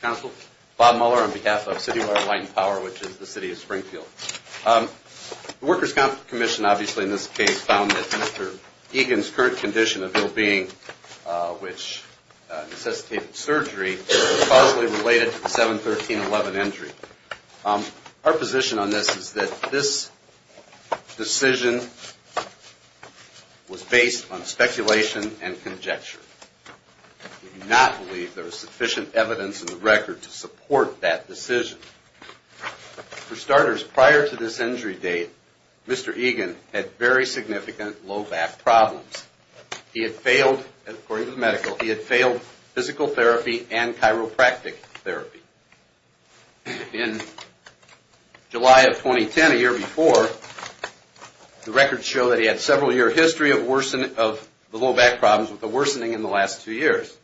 Council, Bob Muller on behalf of City Water Light & Power, which is the City of Springfield. The Workers' Comp'n Commission, obviously in this case, found that Mr. Egan's current condition of ill-being, which necessitated surgery, was causally related to the 7-13-11 injury. Our position on this is that this decision was based on speculation and conjecture. We do not believe there is sufficient evidence in the record to support that decision. For starters, prior to this injury date, Mr. Egan had very significant low back problems. According to the medical, he had failed physical therapy and chiropractic therapy. In July of 2010, a year before, the records show that he had a several-year history of low back problems with a worsening in the last two years.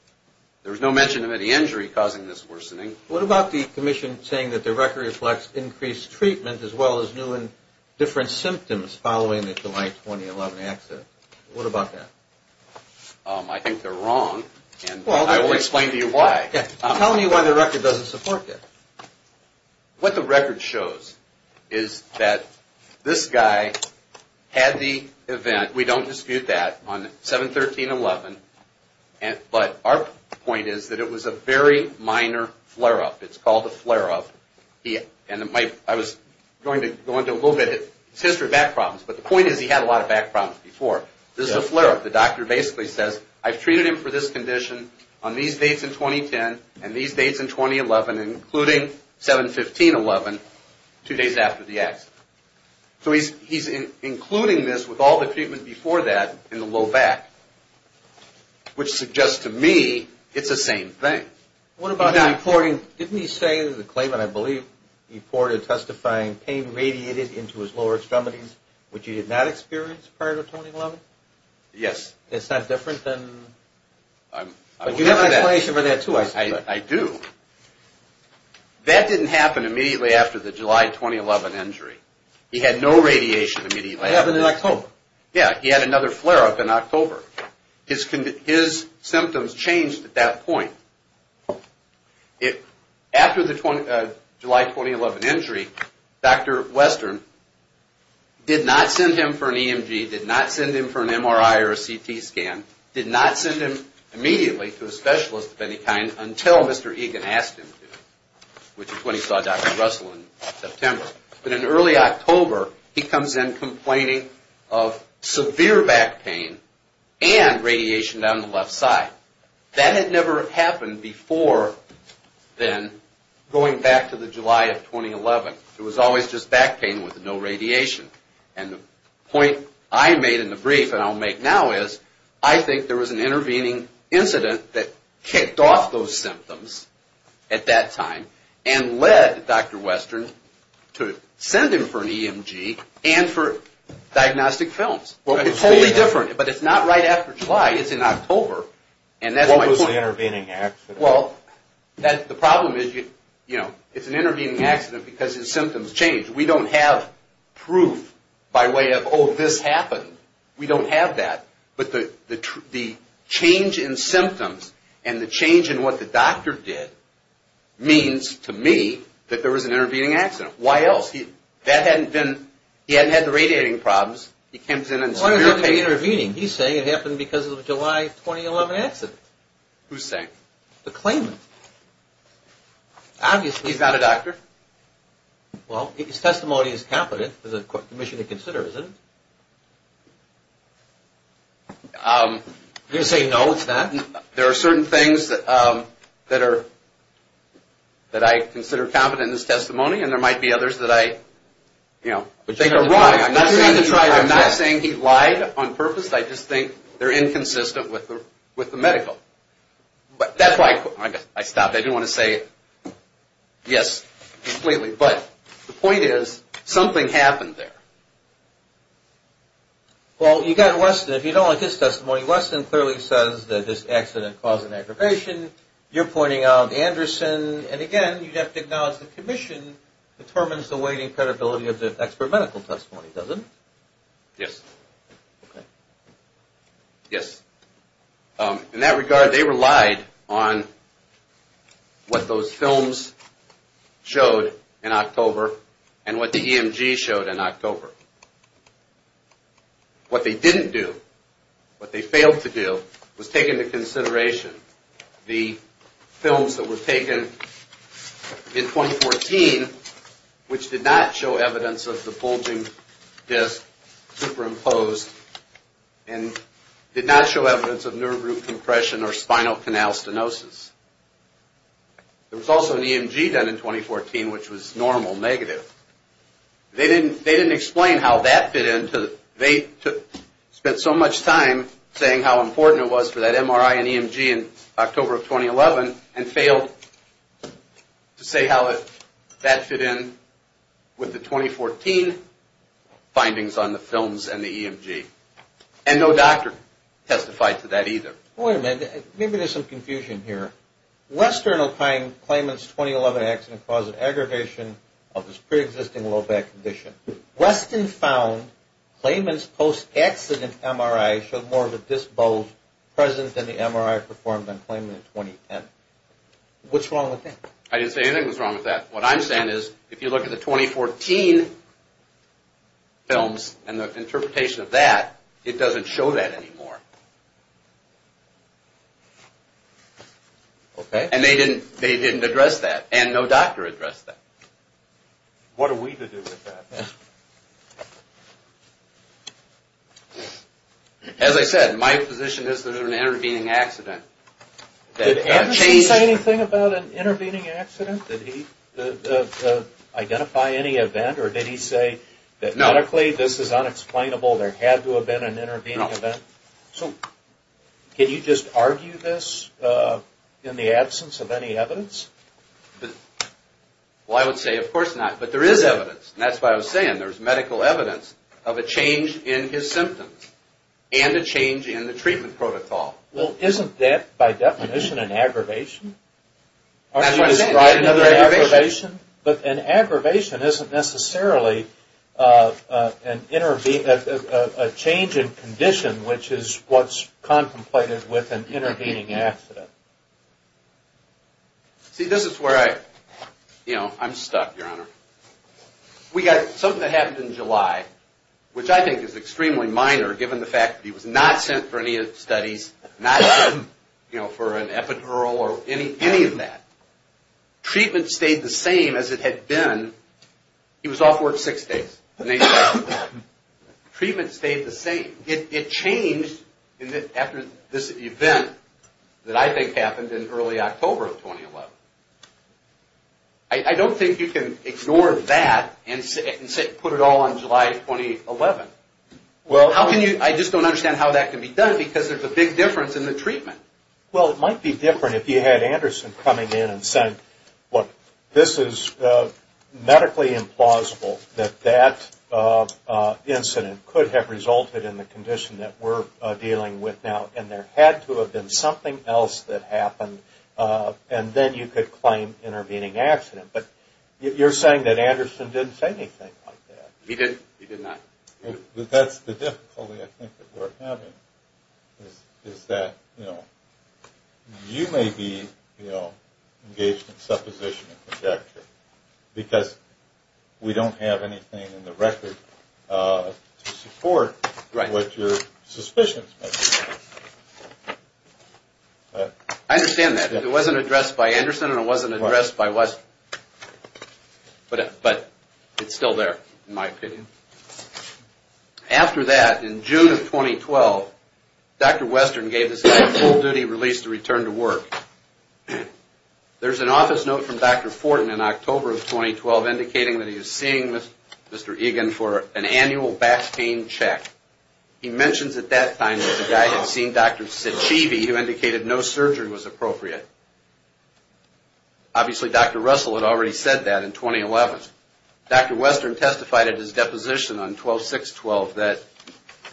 There was no mention of any injury causing this worsening. What about the Commission saying that the record reflects increased treatment as well as new and different symptoms following the July 2011 accident? What about that? I think they're wrong and I will explain to you why. Tell me why the record doesn't support that. What the record shows is that this guy had the event, we don't dispute that, on 7-13-11, but our point is that it was a very minor flare-up. It's called a flare-up. I was going to go into a little bit of his history of back problems, but the point is he had a lot of back problems before. This is a flare-up. The doctor basically says, I've treated him for this condition on these dates in 2010 and these dates in 2011, including 7-15-11, two days after the accident. So he's including this with all the treatment before that in the low back, which suggests to me it's the same thing. What about the reporting? Didn't he say in the claimant, I believe, he reported testifying pain radiated into his lower extremities, which he did not experience prior to 2011? Yes. It's not different than... You have an explanation for that too, I suspect. I do. That didn't happen immediately after the July 2011 injury. He had no radiation immediately after that. It happened in October. Yeah, he had another flare-up in October. His symptoms changed at that point. After the July 2011 injury, Dr. Western did not send him for an EMG, did not send him for an MRI or a CT scan, did not send him immediately to a specialist of any kind until Mr. Egan asked him to, which is when he saw Dr. Russell in September. But in early October, he comes in complaining of severe back pain and radiation down the left side. That had never happened before then, going back to the July of 2011. It was always just back pain with no radiation. And the point I made in the brief and I'll make now is, I think there was an intervening incident that kicked off those symptoms at that time and led Dr. Western to send him for an EMG and for diagnostic films. It's totally different, but it's not right after July. It's in October. What was the intervening accident? Well, the problem is, it's an intervening accident because his symptoms changed. We don't have proof by way of, oh, this happened. We don't have that. But the change in symptoms and the change in what the doctor did means to me that there was an intervening accident. Why else? That hadn't been, he hadn't had the radiating problems. He comes in in severe pain. What do you mean intervening? He's saying it happened because of the July 2011 accident. Who's saying? The claimant. Obviously. He's not a doctor. Well, his testimony is competent. There's a commission to consider, isn't it? You're saying no, it's not? There are certain things that are, that I consider competent in his testimony and there might be others that I, you know, think are wrong. I'm not saying he lied on purpose. I just think they're inconsistent with the medical. But that's why I stopped. I didn't want to say yes completely. But the point is, something happened there. Well, you got Weston. If you don't like his testimony, Weston clearly says that this accident caused an aggravation. You're pointing out Anderson. And again, you'd have to acknowledge the commission determines the weight and credibility of the expert medical testimony, doesn't it? Yes. Okay. Yes. In that regard, they relied on what those films showed in October and what the EMG showed in October. What they didn't do, what they failed to do, was take into consideration the films that were taken in 2014, which did not show evidence of the bulging disc superimposed and did not show evidence of nerve root compression or spinal canal stenosis. There was also an EMG done in 2014, which was normal negative. They didn't explain how that fit in. They spent so much time saying how important it was for that MRI and EMG in October of 2011 and failed to say how that fit in with the 2014 findings on the films and the EMG. And no doctor testified to that either. Wait a minute. Maybe there's some confusion here. Western O'Kane claimant's 2011 accident caused an aggravation of his preexisting low back condition. Western found claimant's post-accident MRI showed more of a disc bulge present than the MRI performed on claimant in 2010. What's wrong with that? I didn't say anything was wrong with that. What I'm saying is if you look at the 2014 films and the interpretation of that, it doesn't show that anymore. And they didn't address that. And no doctor addressed that. What are we to do with that? As I said, my position is that it was an intervening accident. Did Anderson say anything about an intervening accident? Did he identify any event or did he say that medically this is unexplainable, there had to have been an intervening event? So can you just argue this in the absence of any evidence? Well, I would say of course not. But there is evidence. And that's what I was saying. There's medical evidence of a change in his symptoms and a change in the treatment protocol. Well, isn't that by definition an aggravation? That's what I'm saying. But an aggravation isn't necessarily a change in condition, which is what's contemplated with an intervening accident. See, this is where I'm stuck, Your Honor. We got something that happened in July, which I think is extremely minor given the fact that he was not sent for any studies, not sent for an epidural or any of that. Treatment stayed the same as it had been. He was off work six days. Treatment stayed the same. It changed after this event that I think happened in early October of 2011. I don't think you can ignore that and put it all on July 2011. Well, I just don't understand how that can be done because there's a big difference in the treatment. Well, it might be different if you had Anderson coming in and saying, look, this is medically implausible that that incident could have resulted in the condition that we're dealing with now, and there had to have been something else that happened, and then you could claim intervening accident. But you're saying that Anderson didn't say anything like that. He didn't. He did not. That's the difficulty I think that we're having is that you may be engaged in supposition and projection because we don't have anything in the record to support what your suspicions may be. I understand that. It wasn't addressed by Anderson and it wasn't addressed by West. But it's still there in my opinion. After that, in June of 2012, Dr. Western gave this guy a full-duty release to return to work. There's an office note from Dr. Fortin in October of 2012 indicating that he was seeing Mr. Egan for an annual back pain check. He mentions at that time that the guy had seen Dr. Cecivi who indicated no surgery was appropriate. Obviously, Dr. Russell had already said that in 2011. Dr. Western testified at his deposition on 12-6-12 that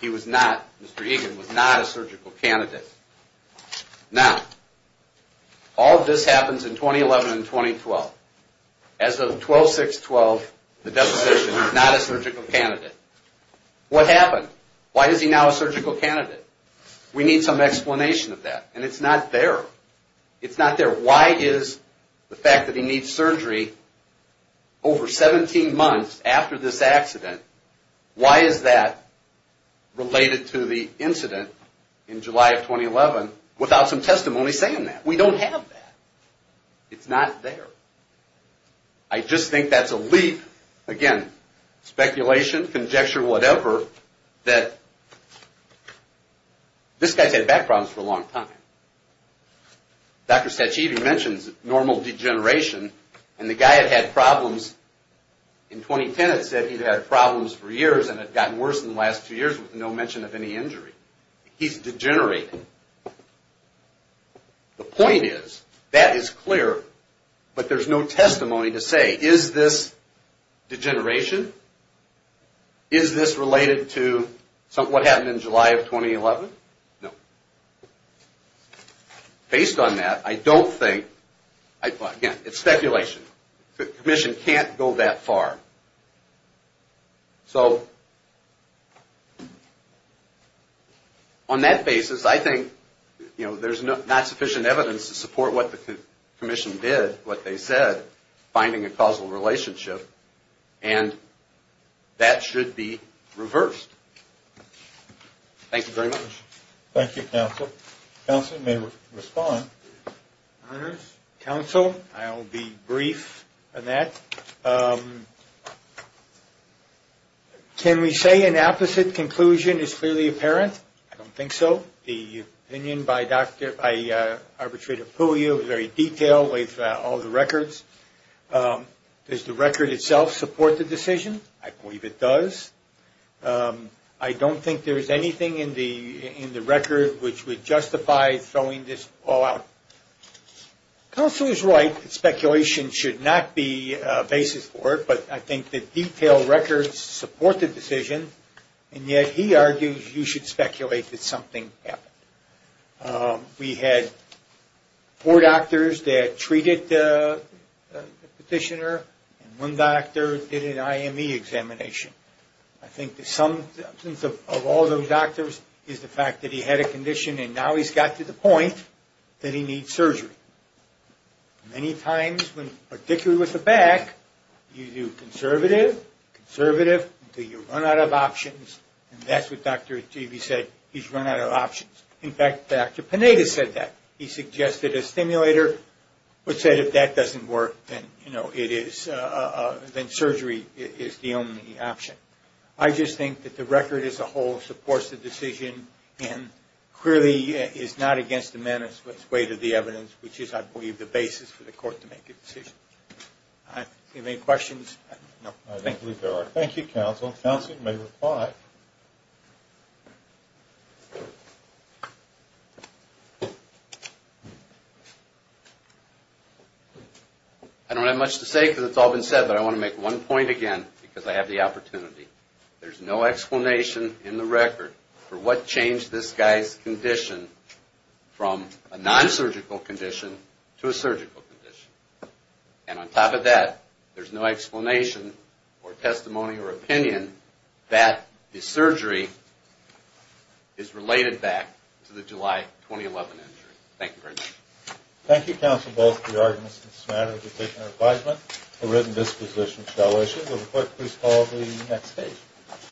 he was not, Mr. Egan was not a surgical candidate. Now, all of this happens in 2011 and 2012. As of 12-6-12, the deposition, not a surgical candidate. What happened? Why is he now a surgical candidate? We need some explanation of that, and it's not there. It's not there. Why is the fact that he needs surgery over 17 months after this accident, why is that related to the incident in July of 2011 without some testimony saying that? We don't have that. It's not there. I just think that's a leap, again, speculation, conjecture, whatever, that this guy's had back problems for a long time. Dr. Cecivi mentions normal degeneration, and the guy had had problems in 2010. It said he'd had problems for years and had gotten worse in the last two years with no mention of any injury. He's degenerating. The point is, that is clear, but there's no testimony to say, is this degeneration? Is this related to what happened in July of 2011? No. Based on that, I don't think, again, it's speculation. The commission can't go that far. So on that basis, I think there's not sufficient evidence to support what the commission did, what they said, finding a causal relationship, and that should be reversed. Thank you very much. Thank you, counsel. Counsel may respond. Counsel, I'll be brief on that. Can we say an opposite conclusion is clearly apparent? I don't think so. The opinion by Arbitrator Puglia was very detailed with all the records. Does the record itself support the decision? I believe it does. I don't think there's anything in the record which would justify throwing this all out. Counsel is right. Speculation should not be a basis for it, but I think the detailed records support the decision, and yet he argues you should speculate that something happened. We had four doctors that treated the petitioner, and one doctor did an IME examination. I think the substance of all those doctors is the fact that he had a condition, and now he's got to the point that he needs surgery. Many times, particularly with the back, you do conservative, conservative, until you run out of options, and that's what Dr. Givi said, he's run out of options. In fact, Dr. Pineda said that. He suggested a stimulator, but said if that doesn't work, then surgery is the only option. I just think that the record as a whole supports the decision and clearly is not against the menace, but is way to the evidence, which is, I believe, the basis for the court to make a decision. Do you have any questions? No. I don't believe there are. Thank you, counsel. Counsel, you may reply. I don't have much to say because it's all been said, but I want to make one point again because I have the opportunity. There's no explanation in the record for what changed this guy's condition from a nonsurgical condition to a surgical condition. And on top of that, there's no explanation or testimony or opinion that the surgery is related back to the July 2011 injury. Thank you very much. Thank you, counsel, both for your arguments in this matter. We've taken our advisement. A written disposition shall issue. Will the court please call the next case?